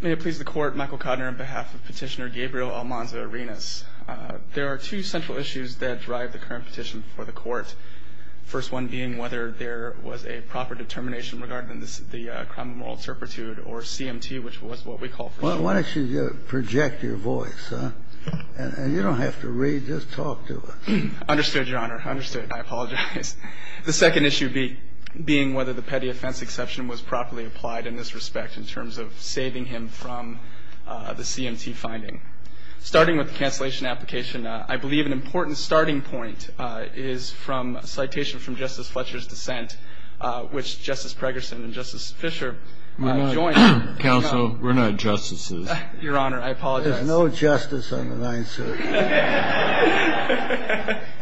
May it please the Court, Michael Kodner on behalf of Petitioner Gabriel Almanza-Arenas. There are two central issues that drive the current petition before the Court. The first one being whether there was a proper determination regarding the crime of moral turpitude, or CMT, which was what we call for. Why don't you project your voice, and you don't have to read, just talk to us. Understood, Your Honor, understood. I apologize. The second issue being whether the petty offense exception was properly applied in this respect in terms of saving him from the CMT finding. Starting with the cancellation application, I believe an important starting point is from a citation from Justice Fletcher's dissent, which Justice Pregerson and Justice Fischer joined. Counsel, we're not justices. Your Honor, I apologize. There's no justice on the 9th Circuit.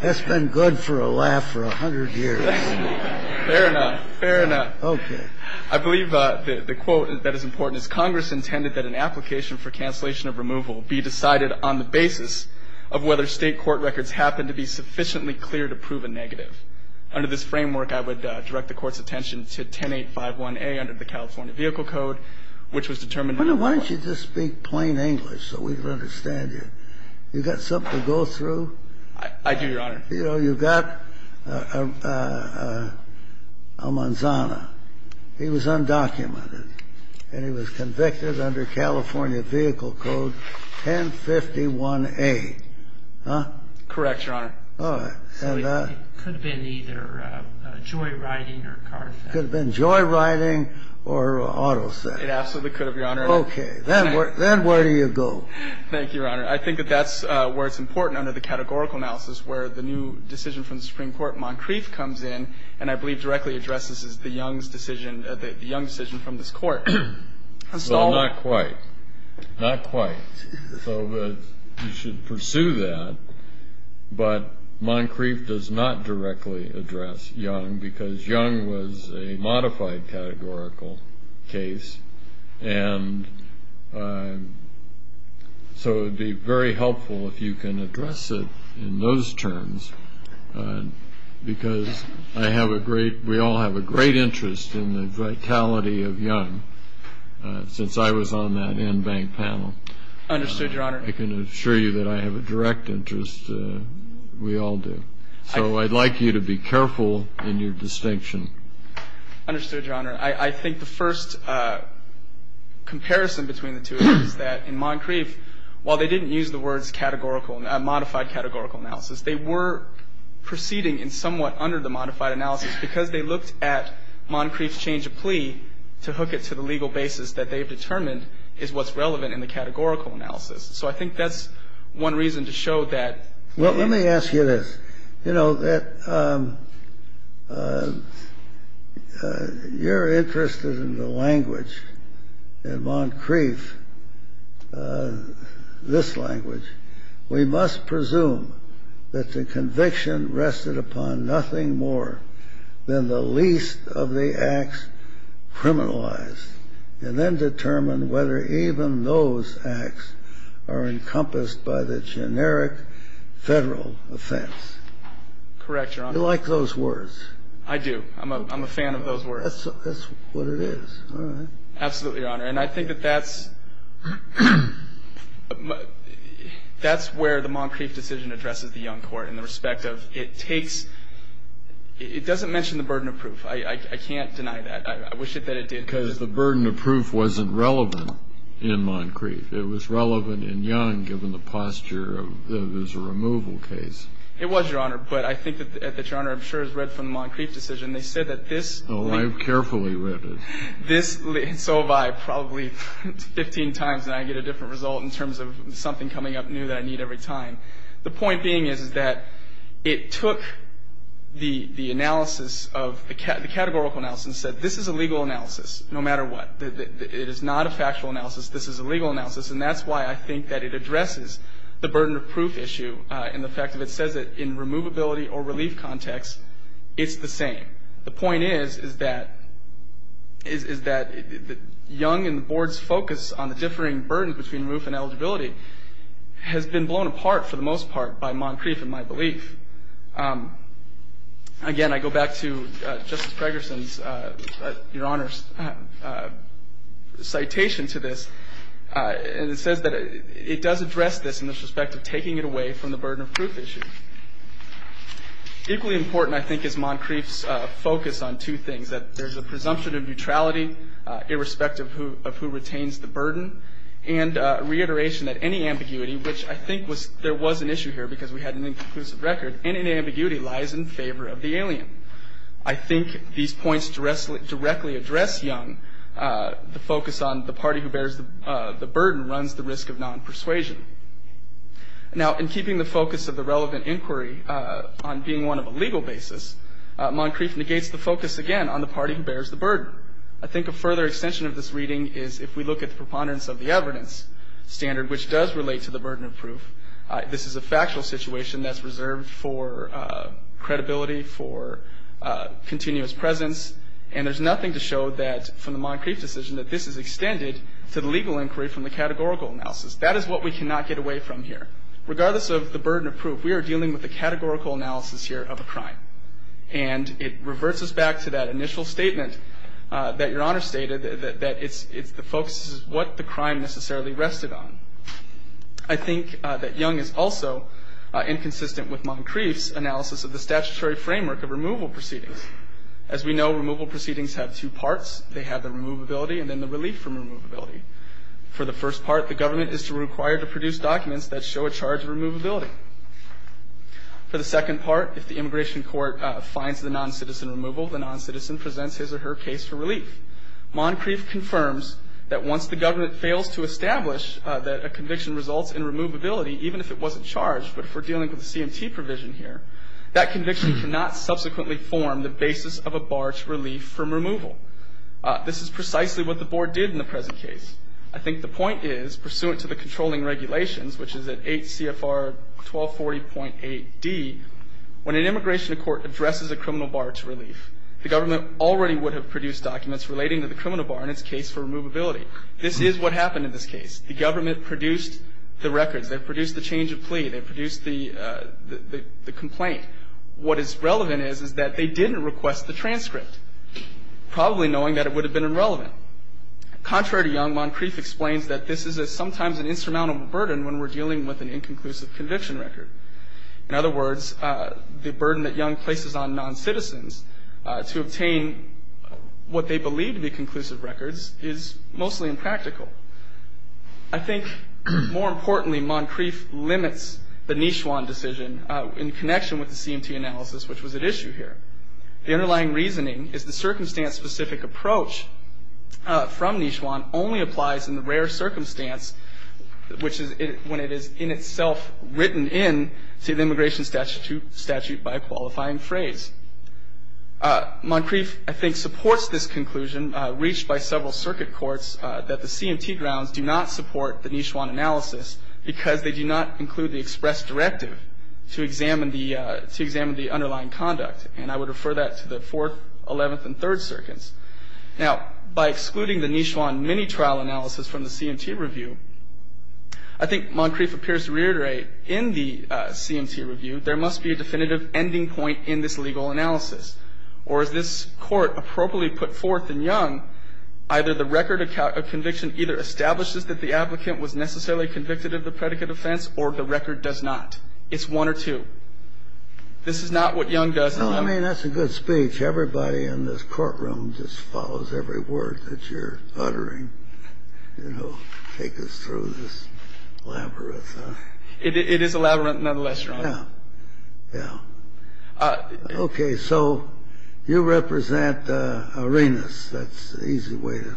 That's been good for a laugh for a hundred years. Fair enough, fair enough. Okay. I believe the quote that is important is, Congress intended that an application for cancellation of removal be decided on the basis of whether state court records happened to be sufficiently clear to prove a negative. Under this framework, I would direct the Court's attention to 10851A under the California Vehicle Code, which was determined in the court. Why don't you just speak plain English so we can understand you? You got something to go through? I do, Your Honor. You know, you got Almanzana. He was undocumented, and he was convicted under California Vehicle Code 1051A. Correct, Your Honor. It could have been either joyriding or car theft. It could have been joyriding or auto theft. It absolutely could have, Your Honor. Okay. Then where do you go? Thank you, Your Honor. I think that that's where it's important under the categorical analysis where the new decision from the Supreme Court, Moncrief, comes in, and I believe directly addresses the Young's decision, the Young decision from this Court. Not quite. Not quite. So you should pursue that. But Moncrief does not directly address Young because Young was a modified categorical case, and so it would be very helpful if you can address it in those terms because I have a great ñ we all have a great interest in the vitality of Young since I was on that en banc panel. Understood, Your Honor. I can assure you that I have a direct interest. We all do. So I'd like you to be careful in your distinction. Understood, Your Honor. I think the first comparison between the two is that in Moncrief, while they didn't use the words modified categorical analysis, they were proceeding in somewhat under the modified analysis because they looked at Moncrief's change of plea to hook it to the legal basis that they've determined is what's relevant in the categorical analysis. So I think that's one reason to show that. Well, let me ask you this. You know, that you're interested in the language in Moncrief, this language. We must presume that the conviction rested upon nothing more than the least of the acts criminalized and then determine whether even those acts are encompassed by the generic Federal offense. Correct, Your Honor. You like those words. I do. I'm a fan of those words. That's what it is. All right. Absolutely, Your Honor. And I think that that's where the Moncrief decision addresses the Young court in the respect of it takes ñ it doesn't mention the burden of proof. I can't deny that. I wish it did. Because the burden of proof wasn't relevant in Moncrief. It was relevant in Young given the posture of it was a removal case. It was, Your Honor. But I think that, Your Honor, I'm sure it was read from the Moncrief decision. They said that this ñ Oh, I've carefully read it. So have I probably 15 times and I get a different result in terms of something coming up new that I need every time. The point being is that it took the analysis of ñ the categorical analysis and said, this is a legal analysis no matter what. It is not a factual analysis. This is a legal analysis. And that's why I think that it addresses the burden of proof issue and the fact that it says that in removability or relief context, it's the same. The point is, is that Young and the Board's focus on the differing burden between roof and eligibility has been blown apart for the most part by Moncrief in my belief. Again, I go back to Justice Gregersen's, Your Honor's, citation to this. And it says that it does address this in the respect of taking it away from the burden of proof issue. Equally important, I think, is Moncrief's focus on two things, that there's a presumption of neutrality irrespective of who retains the burden and reiteration that any ambiguity, which I think there was an issue here because we had an inconclusive record, any ambiguity lies in favor of the alien. I think these points directly address Young. The focus on the party who bears the burden runs the risk of non-persuasion. Now, in keeping the focus of the relevant inquiry on being one of a legal basis, Moncrief negates the focus again on the party who bears the burden. However, I think a further extension of this reading is if we look at the preponderance of the evidence standard, which does relate to the burden of proof, this is a factual situation that's reserved for credibility, for continuous presence, and there's nothing to show that from the Moncrief decision that this is extended to the legal inquiry from the categorical analysis. That is what we cannot get away from here. Regardless of the burden of proof, we are dealing with the categorical analysis here of a crime. And it reverts us back to that initial statement that Your Honor stated, that the focus is what the crime necessarily rested on. I think that Young is also inconsistent with Moncrief's analysis of the statutory framework of removal proceedings. As we know, removal proceedings have two parts. They have the removability and then the relief from removability. For the first part, the government is required to produce documents that show a charge of removability. For the second part, if the immigration court finds the noncitizen removal, the noncitizen presents his or her case for relief. Moncrief confirms that once the government fails to establish that a conviction results in removability, even if it wasn't charged, but if we're dealing with a CMT provision here, that conviction cannot subsequently form the basis of a barge relief from removal. This is precisely what the Board did in the present case. I think the point is, pursuant to the controlling regulations, which is at 8 CFR 1240.8D, when an immigration court addresses a criminal barge relief, the government already would have produced documents relating to the criminal bar in its case for removability. This is what happened in this case. The government produced the records. They produced the change of plea. They produced the complaint. What is relevant is, is that they didn't request the transcript, probably knowing that it would have been irrelevant. Contrary to Young, Moncrief explains that this is sometimes an insurmountable burden when we're dealing with an inconclusive conviction record. In other words, the burden that Young places on noncitizens to obtain what they believe to be conclusive records is mostly impractical. I think, more importantly, Moncrief limits the Nishwan decision in connection with the CMT analysis, which was at issue here. The underlying reasoning is the circumstance-specific approach from Nishwan only applies in the rare circumstance, which is when it is in itself written in to the immigration statute by a qualifying phrase. Moncrief, I think, supports this conclusion, reached by several circuit courts, that the CMT grounds do not support the Nishwan analysis because they do not include the express directive to examine the underlying conduct. And I would refer that to the Fourth, Eleventh, and Third Circuits. Now, by excluding the Nishwan mini-trial analysis from the CMT review, I think Moncrief appears to reiterate, in the CMT review, there must be a definitive ending point in this legal analysis. Or as this Court appropriately put forth in Young, either the record of conviction either establishes that the applicant was necessarily convicted of the predicate offense, or the record does not. It's one or two. This is not what Young does. No, I mean, that's a good speech. Everybody in this courtroom just follows every word that you're uttering, you know, take us through this labyrinth. It is a labyrinth nonetheless, Your Honor. Yeah. Yeah. Okay. So you represent Arenas. That's an easy way to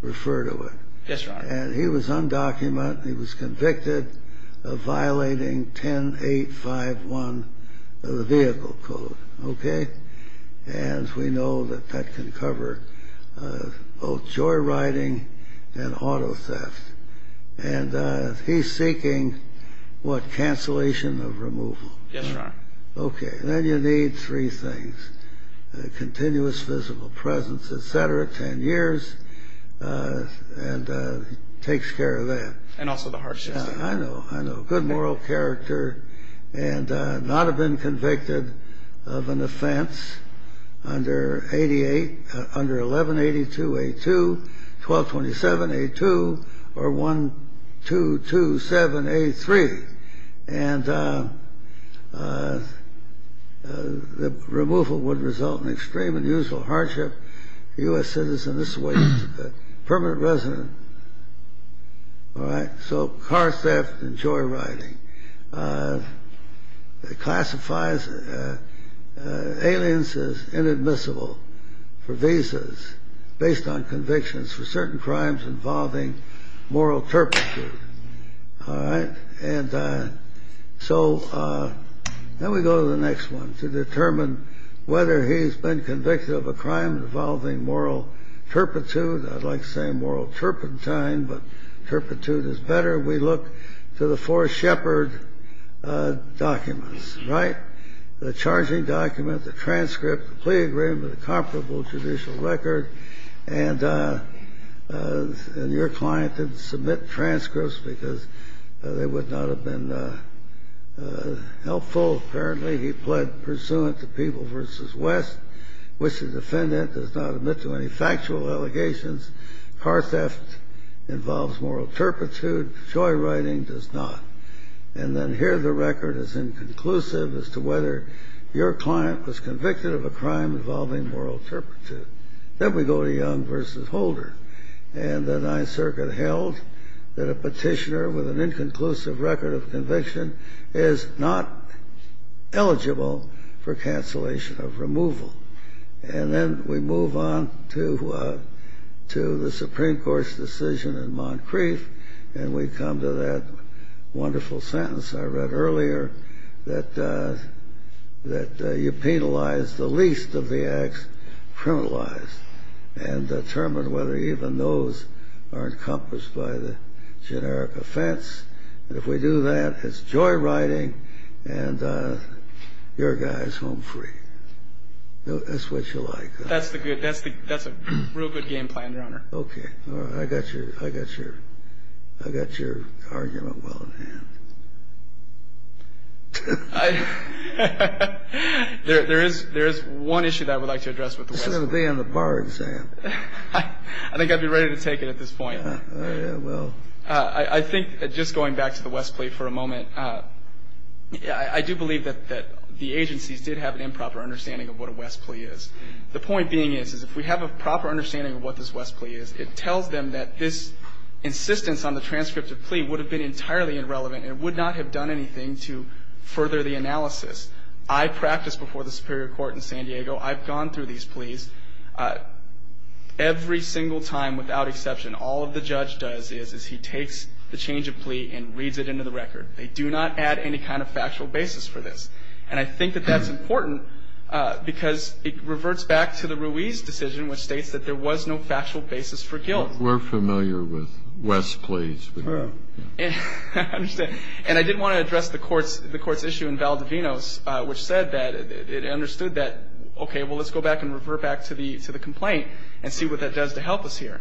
refer to it. Yes, Your Honor. And he was undocumented. He was convicted of violating 10.851 of the Vehicle Code. Okay? And we know that that can cover both joyriding and auto theft. And he's seeking, what, cancellation of removal? Yes, Your Honor. Okay. Then you need three things, continuous physical presence, et cetera, 10 years, and he takes care of that. And also the hardship. I know. I know. Good moral character and not have been convicted of an offense under 1182A2, 1227A2, or 1227A3. And the removal would result in extreme and unusual hardship. A U.S. citizen, this way, permanent resident, all right, so car theft and joyriding. It classifies aliens as inadmissible for visas based on convictions for certain crimes involving moral turpitude. All right? And so then we go to the next one to determine whether he's been convicted of a crime involving moral turpitude. I'd like to say moral turpentine, but turpitude is better. We look to the four Shepard documents, right? The charging document, the transcript, the plea agreement, the comparable judicial record. And your client didn't submit transcripts because they would not have been helpful, apparently. He pled pursuant to People v. West, which the defendant does not admit to any factual allegations. Car theft involves moral turpitude. Joyriding does not. And then here the record is inconclusive as to whether your client was convicted of a crime involving moral turpitude. Then we go to Young v. Holder. And the Ninth Circuit held that a petitioner with an inconclusive record of conviction is not eligible for cancellation of removal. And then we move on to the Supreme Court's decision in Moncrief, and we come to that wonderful sentence I read earlier, that you penalize the least of the acts criminalized and determine whether even those are encompassed by the generic offense. And if we do that, it's Joyriding and your guys home free. That's what you like. That's a real good game plan, Your Honor. Okay. I got your argument well in hand. There is one issue that I would like to address with the West plea. This is going to be on the bar exam. I think I'd be ready to take it at this point. Oh, yeah, well. I think, just going back to the West plea for a moment, I do believe that the agencies did have an improper understanding of what a West plea is. The point being is, is if we have a proper understanding of what this West plea is, it tells them that this insistence on the transcript of plea would have been entirely irrelevant and would not have done anything to further the analysis. I practiced before the Superior Court in San Diego. I've gone through these pleas every single time without exception. All the judge does is he takes the change of plea and reads it into the record. They do not add any kind of factual basis for this. And I think that that's important because it reverts back to the Ruiz decision, which states that there was no factual basis for guilt. We're familiar with West pleas. I understand. And I did want to address the Court's issue in Valdivinos, which said that it understood that, okay, well, let's go back and revert back to the complaint and see what that does to help us here.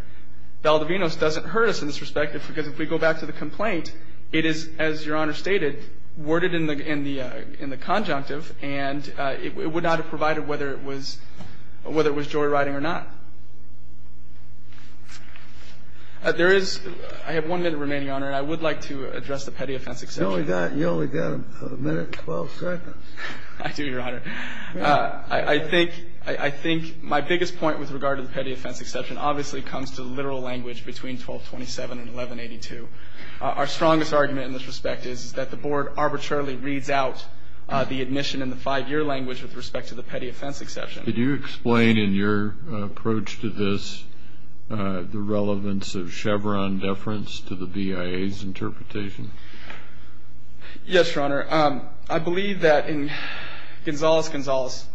Valdivinos doesn't hurt us in this respect because if we go back to the complaint, it is, as Your Honor stated, worded in the conjunctive, and it would not have provided whether it was joyriding or not. There is one minute remaining, Your Honor, and I would like to address the petty offense exception. You only got a minute and 12 seconds. I do, Your Honor. I think my biggest point with regard to the petty offense exception obviously comes to the literal language between 1227 and 1182. Our strongest argument in this respect is that the Board arbitrarily reads out the admission in the five-year language with respect to the petty offense exception. Could you explain in your approach to this the relevance of Chevron deference to the BIA's interpretation? Yes, Your Honor. I believe that in Gonzales-Gonzales,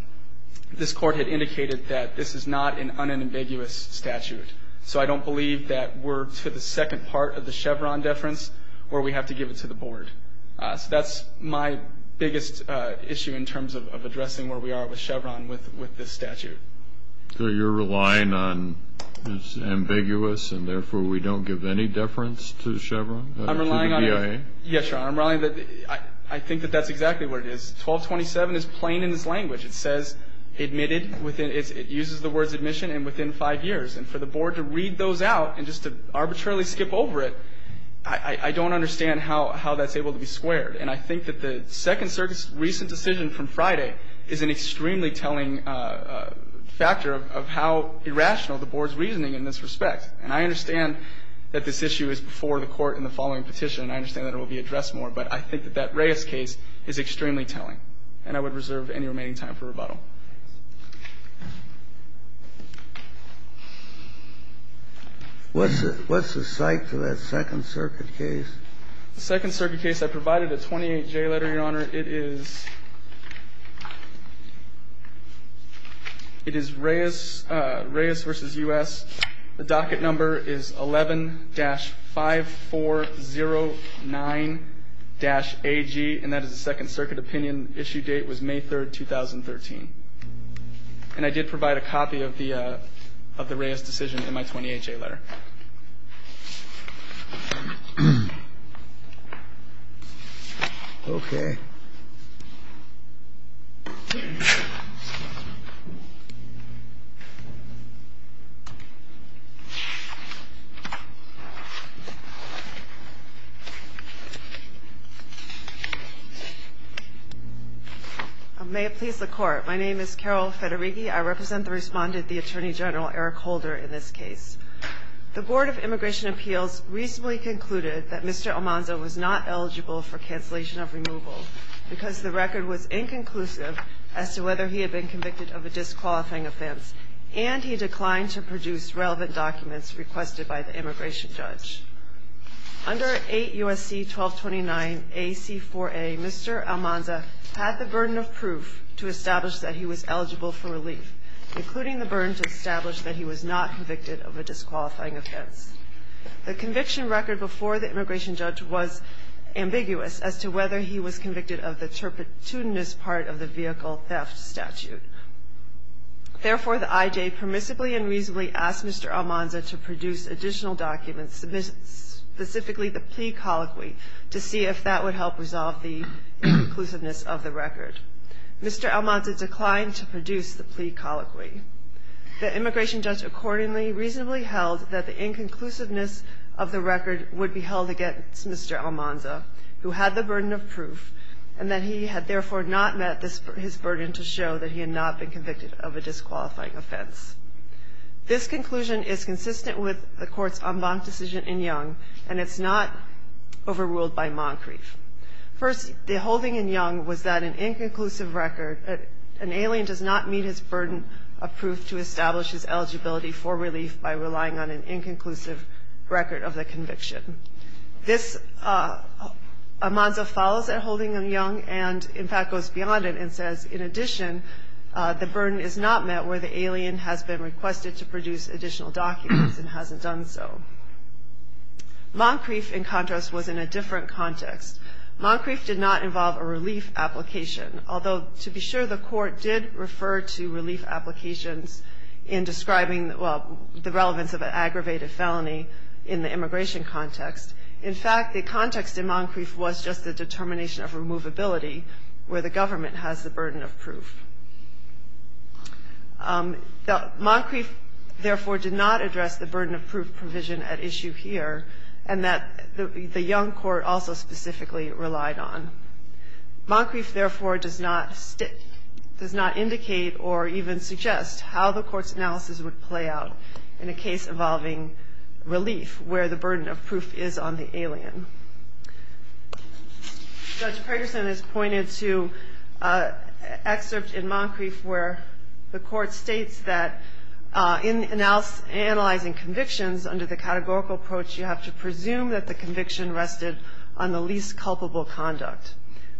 this Court had indicated that this is not an unambiguous statute. So I don't believe that we're to the second part of the Chevron deference where we have to give it to the Board. So that's my biggest issue in terms of addressing where we are with Chevron with this statute. So you're relying on it's ambiguous and, therefore, we don't give any deference to the BIA? Yes, Your Honor. I think that that's exactly what it is. 1227 is plain in its language. It says it uses the words admission and within five years. And for the Board to read those out and just to arbitrarily skip over it, I don't understand how that's able to be squared. And I think that the second recent decision from Friday is an extremely telling factor of how irrational the Board's reasoning in this respect. And I understand that this issue is before the Court in the following petition, and I understand that it will be addressed more. But I think that that Reyes case is extremely telling. And I would reserve any remaining time for rebuttal. What's the site for that Second Circuit case? The Second Circuit case, I provided a 28J letter, Your Honor. It is Reyes v. U.S. The docket number is 11-5409-AG, and that is the Second Circuit opinion. The issue date was May 3, 2013. And I did provide a copy of the Reyes decision in my 28J letter. Okay. May it please the Court. My name is Carol Federighi. I represent the respondent, the Attorney General, Eric Holder, in this case. The Board of Immigration Appeals recently concluded that Mr. Almanza was not eligible for cancellation of removal because the record was inconclusive as to whether he had been convicted of a disqualifying offense, and he declined to produce relevant documents requested by the immigration judge. Under 8 U.S.C. 1229 AC4A, Mr. Almanza had the burden of proof to establish that he was eligible for relief, including the burden to establish that he was not convicted of a disqualifying offense. The conviction record before the immigration judge was ambiguous as to whether he was convicted of the turpitude part of the vehicle theft statute. Therefore, the IJ permissibly and reasonably asked Mr. Almanza to produce additional documents, specifically the plea colloquy, to see if that would help resolve the inclusiveness of the record. Mr. Almanza declined to produce the plea colloquy. The immigration judge accordingly reasonably held that the inconclusiveness of the record would be held against Mr. Almanza, who had the burden of proof, and that he had therefore not met his burden to show that he had not been convicted of a disqualifying offense. This conclusion is consistent with the Court's en banc decision in Young, and it's not overruled by Moncrief. First, the holding in Young was that an inconclusive record, an alien does not meet his burden of proof to establish his eligibility for relief by relying on an inconclusive record of the conviction. This, Almanza follows that holding in Young, and in fact goes beyond it and says, in addition, the burden is not met where the alien has been requested to produce additional documents and hasn't done so. Moncrief, in contrast, was in a different context. Moncrief did not involve a relief application, although to be sure the Court did refer to relief applications in describing the relevance of an aggravated felony in the immigration context. In fact, the context in Moncrief was just a determination of removability where the government has the burden of proof. Moncrief, therefore, did not address the burden of proof provision at issue here, and that the Young Court also specifically relied on. Moncrief, therefore, does not indicate or even suggest how the Court's analysis would play out in a case involving relief where the burden of proof is on the alien. Judge Pragerson has pointed to an excerpt in Moncrief where the Court states that in analyzing convictions under the categorical approach, you have to presume that the conviction rested on the least culpable conduct.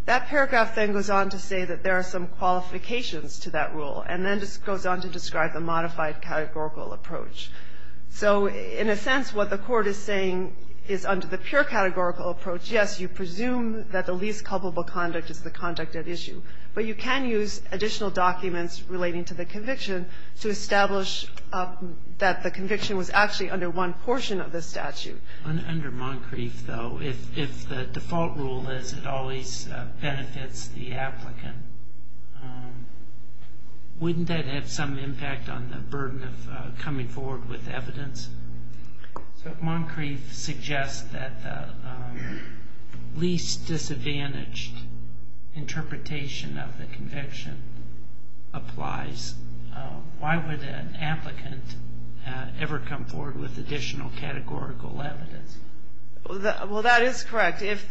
That paragraph then goes on to say that there are some qualifications to that rule and then goes on to describe the modified categorical approach. So in a sense, what the Court is saying is under the pure categorical approach, yes, you presume that the least culpable conduct is the conduct at issue, but you can use additional documents relating to the conviction to establish that the conviction was actually under one portion of the statute. Under Moncrief, though, if the default rule is it always benefits the applicant, wouldn't that have some impact on the burden of coming forward with evidence? So if Moncrief suggests that the least disadvantaged interpretation of the conviction applies, why would an applicant ever come forward with additional categorical evidence? Well, that is correct. If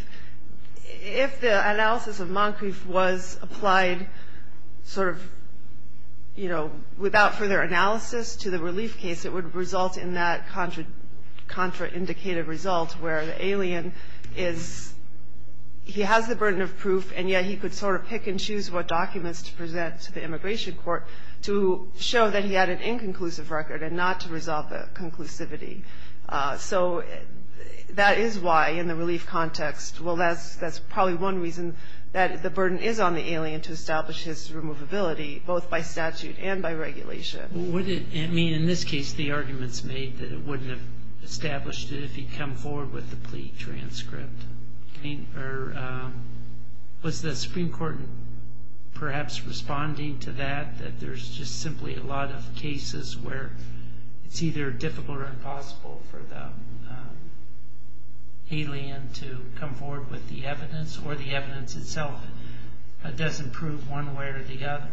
the analysis of Moncrief was applied without further analysis to the relief case, it would result in that contraindicated result where the alien has the burden of proof, and yet he could sort of pick and choose what documents to present to the immigration court to show that he had an inconclusive record and not to resolve the conclusivity. So that is why in the relief context, well, that's probably one reason that the burden is on the alien to establish his removability both by statute and by regulation. Would it mean in this case the arguments made that it wouldn't have established it if he'd come forward with the plea transcript? Was the Supreme Court perhaps responding to that, that there's just simply a lot of cases where it's either difficult or impossible for the alien to come forward with the evidence, or the evidence itself doesn't prove one way or the other?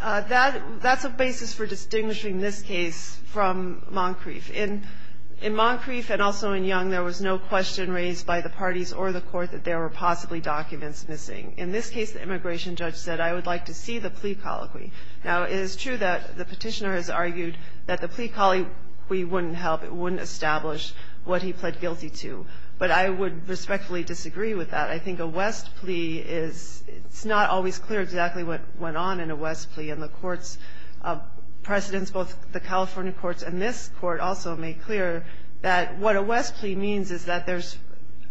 That's a basis for distinguishing this case from Moncrief. In Moncrief and also in Young, there was no question raised by the parties or the court that there were possibly documents missing. In this case, the immigration judge said, I would like to see the plea colloquy. Now, it is true that the petitioner has argued that the plea colloquy wouldn't help. It wouldn't establish what he pled guilty to, but I would respectfully disagree with that. I think a West plea is, it's not always clear exactly what went on in a West plea, and the court's precedents, both the California courts and this court also made clear that what a West plea means is that there's,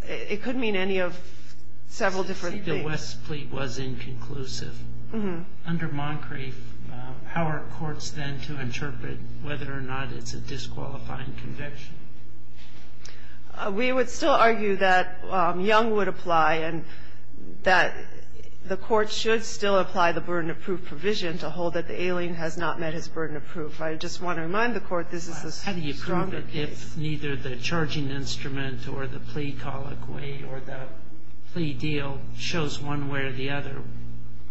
it could mean any of several different things. The West plea was inconclusive. Under Moncrief, how are courts then to interpret whether or not it's a disqualifying conviction? We would still argue that Young would apply and that the court should still apply the burden of proof provision to hold that the alien has not met his burden of proof. I just want to remind the Court this is a stronger case. How do you prove it if neither the charging instrument or the plea colloquy or the plea deal shows one way or the other,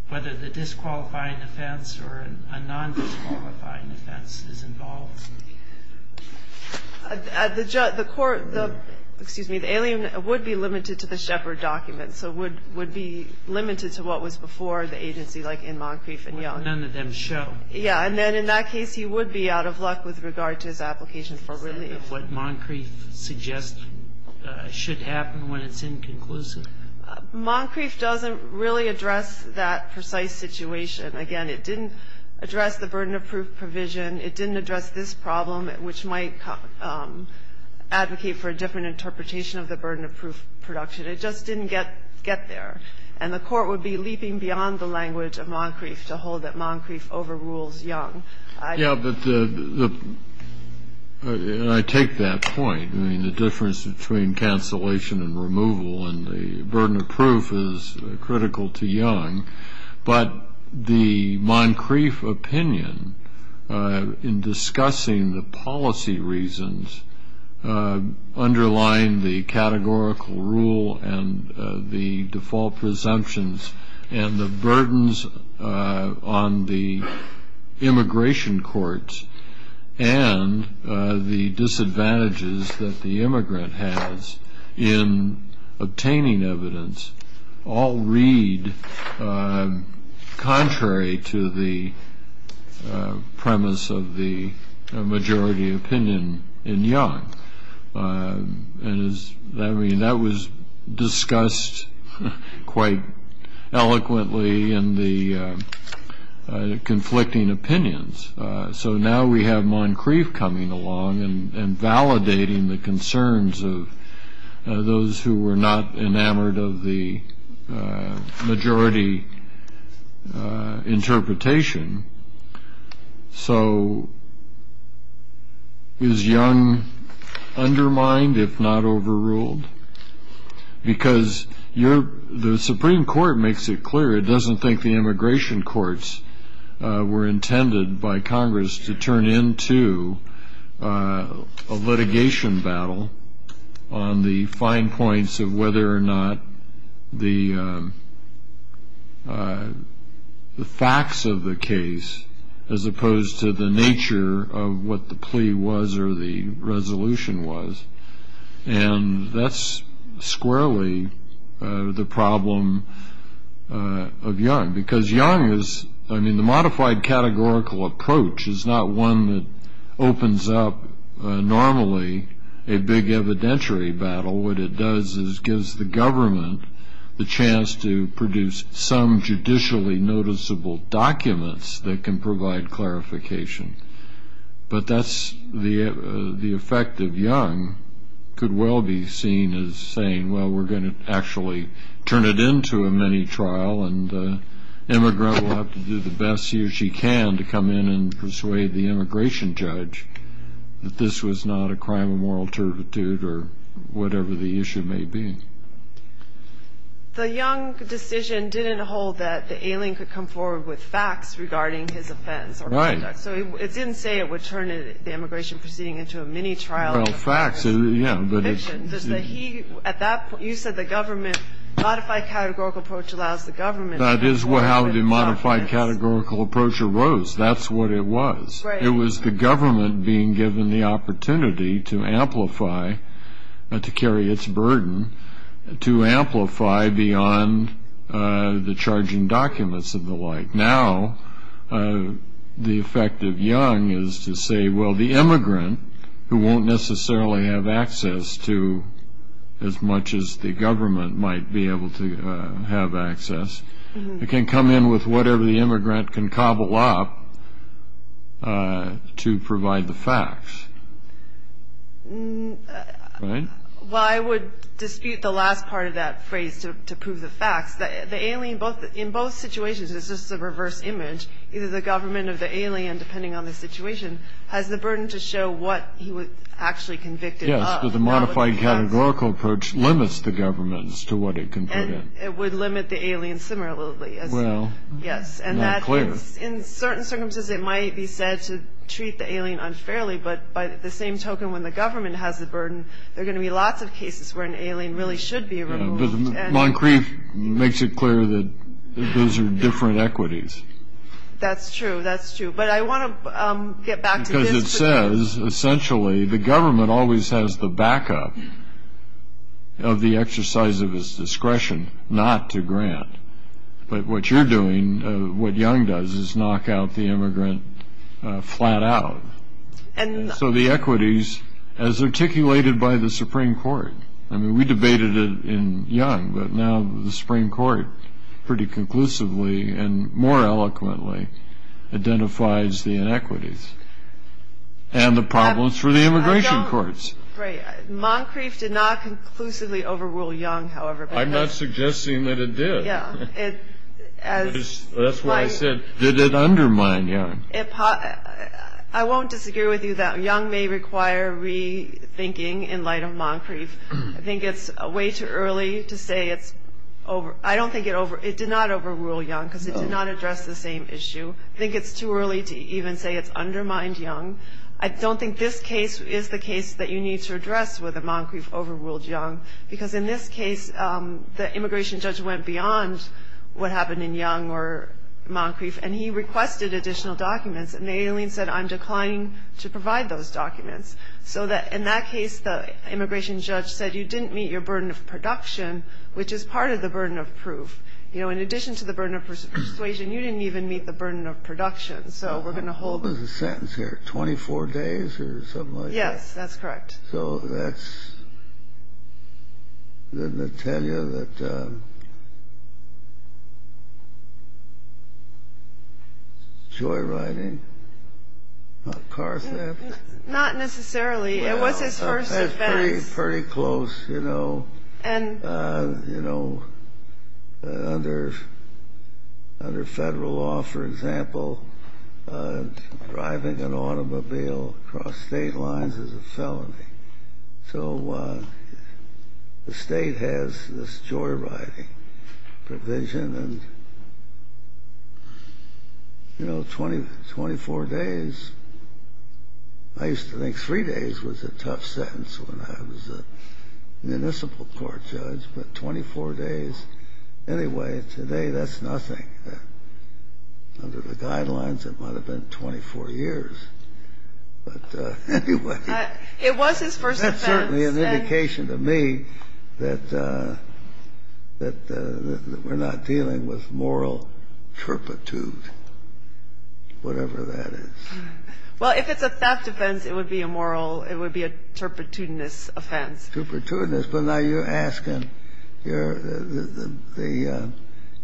whether the disqualifying offense or a non-disqualifying offense is involved? The court, the, excuse me, the alien would be limited to the Shepard document, so would be limited to what was before the agency like in Moncrief and Young. None of them show. Yeah. And then in that case, he would be out of luck with regard to his application for relief. Is that what Moncrief suggests should happen when it's inconclusive? Moncrief doesn't really address that precise situation. Again, it didn't address the burden of proof provision. It didn't address this problem, which might advocate for a different interpretation of the burden of proof production. It just didn't get there. And the court would be leaping beyond the language of Moncrief to hold that Moncrief overrules Young. Yeah, but the, and I take that point. I mean, the difference between cancellation and removal and the burden of proof is critical to Young. But the Moncrief opinion in discussing the policy reasons underlying the categorical rule and the default presumptions and the burdens on the immigration courts and the disadvantages that the immigrant has in obtaining evidence all read contrary to the premise of the majority opinion in Young. I mean, that was discussed quite eloquently in the conflicting opinions. So now we have Moncrief coming along and validating the concerns of those who were not enamored of the majority interpretation. So is Young undermined if not overruled? Because the Supreme Court makes it clear it doesn't think the immigration courts were to turn into a litigation battle on the fine points of whether or not the facts of the case, as opposed to the nature of what the plea was or the resolution was. And that's squarely the problem of Young. Because Young is, I mean, the modified categorical approach is not one that opens up normally a big evidentiary battle. What it does is gives the government the chance to produce some judicially noticeable documents that can provide clarification. But that's the effect of Young could well be seen as saying, well, we're going to actually turn it into a mini-trial, and the immigrant will have to do the best he or she can to come in and persuade the immigration judge that this was not a crime of moral turpitude or whatever the issue may be. The Young decision didn't hold that the alien could come forward with facts regarding his offense. Right. So it didn't say it would turn the immigration proceeding into a mini-trial. Well, facts, yeah. You said the government, modified categorical approach allows the government. That is how the modified categorical approach arose. That's what it was. It was the government being given the opportunity to amplify, to carry its burden, to amplify beyond the charging documents and the like. Now the effect of Young is to say, well, the immigrant, who won't necessarily have access to as much as the government might be able to have access, can come in with whatever the immigrant can cobble up to provide the facts. Well, I would dispute the last part of that phrase, to prove the facts. The alien, in both situations, it's just a reverse image. Either the government or the alien, depending on the situation, has the burden to show what he was actually convicted of. Yes, but the modified categorical approach limits the government as to what it can do. And it would limit the alien similarly. Well, not clear. Yes, and in certain circumstances it might be said to treat the alien unfairly, but by the same token, when the government has the burden, there are going to be lots of cases where an alien really should be removed. Yeah, but Moncrief makes it clear that those are different equities. That's true, that's true. But I want to get back to this. Because it says, essentially, the government always has the backup of the exercise of its discretion not to grant. But what you're doing, what Young does, is knock out the immigrant flat out. And so the equities, as articulated by the Supreme Court, I mean, we debated it in Young, but now the Supreme Court pretty conclusively and more eloquently identifies the inequities and the problems for the immigration courts. Right. Moncrief did not conclusively overrule Young, however. I'm not suggesting that it did. Yeah. That's what I said. Did it undermine Young? I won't disagree with you that Young may require rethinking in light of Moncrief. I think it's way too early to say it's over. I don't think it did not overrule Young, because it did not address the same issue. I think it's too early to even say it's undermined Young. I don't think this case is the case that you need to address with a Moncrief overruled Young, because in this case, the immigration judge went beyond what happened in Young or Moncrief, and he requested additional documents, and the alien said, I'm declining to provide those documents. So in that case, the immigration judge said you didn't meet your burden of production, which is part of the burden of proof. You know, in addition to the burden of persuasion, you didn't even meet the burden of production. So we're going to hold. What was the sentence here, 24 days or something like that? Yes, that's correct. So that's good to tell you that joyriding, not car theft. Not necessarily. It was his first offense. Pretty close, you know. And, you know, under federal law, for example, driving an automobile across state lines is a felony. So the state has this joyriding provision, and, you know, 24 days. I used to think three days was a tough sentence when I was a municipal court judge, but 24 days. Anyway, today that's nothing. Under the guidelines, it might have been 24 years. But anyway. It was his first offense. That's certainly an indication to me that we're not dealing with moral turpitude, whatever that is. Well, if it's a theft offense, it would be a moral, it would be a turpitudinous offense. Turpitudinous. But now you're asking, the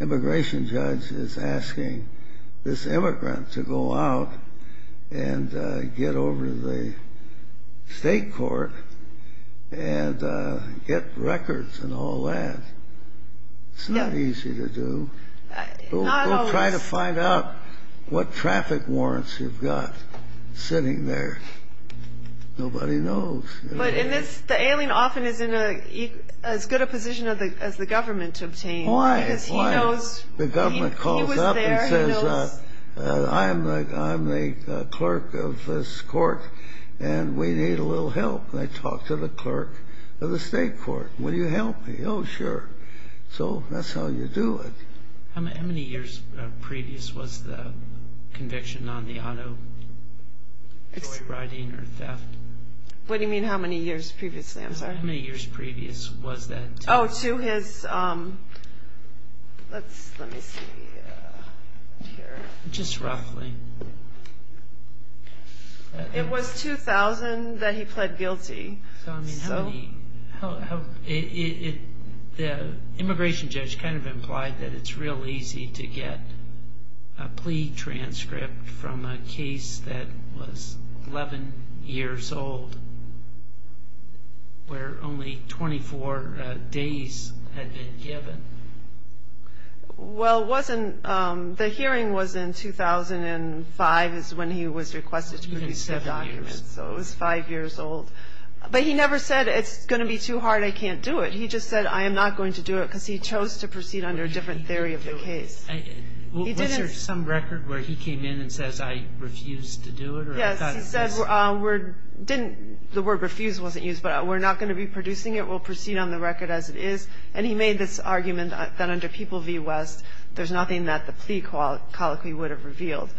immigration judge is asking this immigrant to go out and get over to the state court and get records and all that. It's not easy to do. Go try to find out what traffic warrants you've got sitting there. Nobody knows. But the alien often is in as good a position as the government to obtain. Why? The government calls up and says, I'm the clerk of this court, and we need a little help. And I talk to the clerk of the state court. Will you help me? Oh, sure. So that's how you do it. How many years previous was the conviction on the auto, toy riding or theft? What do you mean how many years previously? I'm sorry. How many years previous was that? Oh, to his, let me see here. Just roughly. It was 2000 that he pled guilty. The immigration judge kind of implied that it's real easy to get a plea transcript from a case that was 11 years old, where only 24 days had been given. Well, it wasn't, the hearing was in 2005 is when he was requested to produce the documents. So it was five years old. But he never said, it's going to be too hard, I can't do it. He just said, I am not going to do it, because he chose to proceed under a different theory of the case. Was there some record where he came in and says, I refuse to do it? Yes, he said, the word refuse wasn't used, but we're not going to be producing it. We'll proceed on the record as it is. And he made this argument that under People v. West, there's nothing that the plea colloquy would have revealed.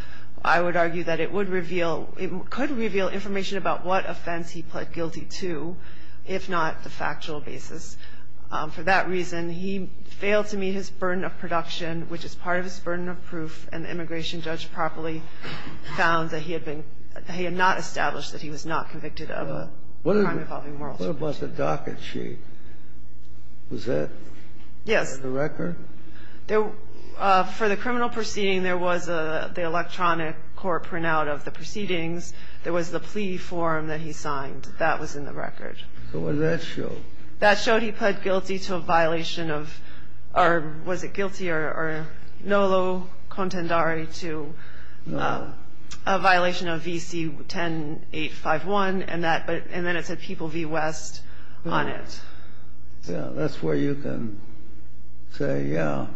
I would argue that it would reveal, it could reveal information about what offense he pled guilty to, if not the factual basis. For that reason, he failed to meet his burden of production, which is part of his burden of proof, and the immigration judge properly found that he had been, he had not established that he was not convicted of a crime involving moral supremacy. What about the docket sheet? Was that in the record? Yes. For the criminal proceeding, there was the electronic court printout of the proceedings. There was the plea form that he signed. That was in the record. So what did that show? That showed he pled guilty to a violation of, or was it guilty or nolo contendere to a violation of v. C-10851, and then it said People v. West on it. Yeah, that's where you can say, yeah.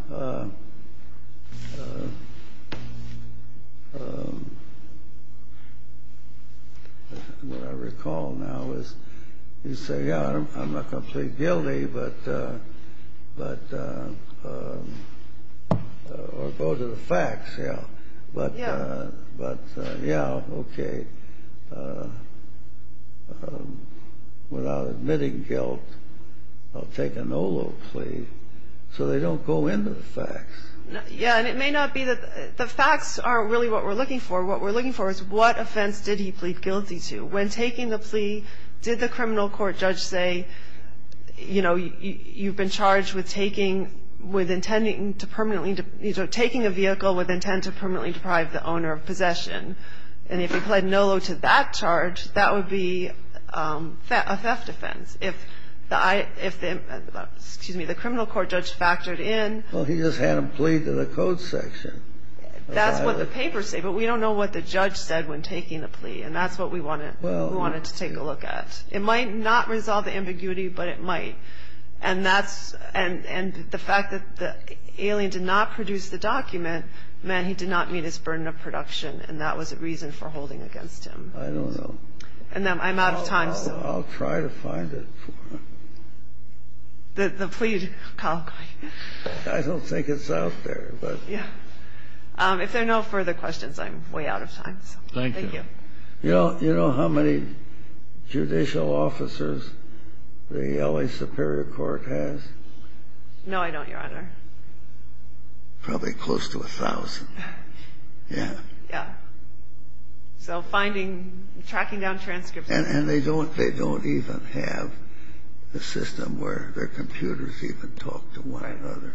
What I recall now is you say, yeah, I'm not completely guilty, but, or go to the facts. Yeah. But, yeah, okay. Without admitting guilt, I'll take a nolo plea so they don't go into the facts. Yeah. And it may not be that the facts aren't really what we're looking for. What we're looking for is what offense did he plead guilty to. When taking the plea, did the criminal court judge say, you know, you've been charged with taking, with intending to permanently, you know, taking a vehicle with intent to permanently deprive the owner of possession, and if he pled nolo to that charge, that would be a theft offense. If the, excuse me, the criminal court judge factored in. Well, he just had him plead to the code section. That's what the papers say. But we don't know what the judge said when taking the plea, and that's what we wanted to take a look at. It might not resolve the ambiguity, but it might. And that's, and the fact that the alien did not produce the document meant he did not meet his burden of production, and that was a reason for holding against him. I don't know. And I'm out of time, so. I'll try to find it for you. The plea. I don't think it's out there, but. Yeah. If there are no further questions, I'm way out of time. Thank you. Thank you. You know how many judicial officers the L.A. Superior Court has? No, I don't, Your Honor. Probably close to 1,000. Yeah. Yeah. So finding, tracking down transcripts. And they don't even have a system where their computers even talk to one another.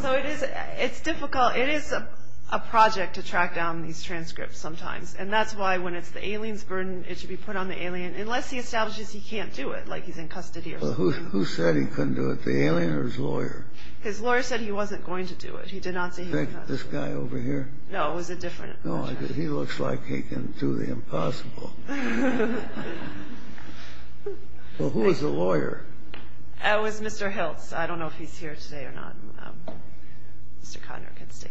So it is, it's difficult, it is a project to track down these transcripts sometimes, and that's why when it's the alien's burden, it should be put on the alien, unless he establishes he can't do it, like he's in custody or something. Well, who said he couldn't do it, the alien or his lawyer? His lawyer said he wasn't going to do it. He did not say he was going to do it. This guy over here? No, it was a different. No, he looks like he can do the impossible. Well, who was the lawyer? It was Mr. Hiltz. I don't know if he's here today or not. Mr. Conner can stay.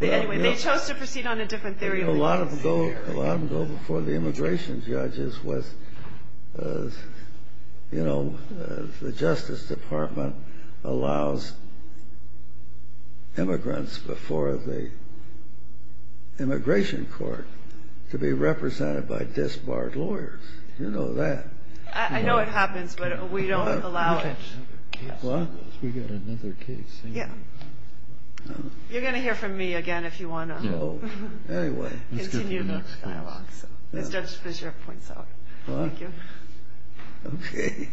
Anyway, they chose to proceed on a different theory. A lot of them go before the immigration judges with, you know, the Justice Department allows immigrants before the immigration court to be represented by disbarred lawyers. You know that. I know it happens, but we don't allow it. We've got another case. You're going to hear from me again if you want to continue the dialogue. As Judge Fischer points out. Thank you. Okay.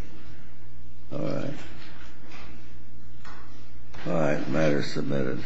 All right. All right, matter submitted.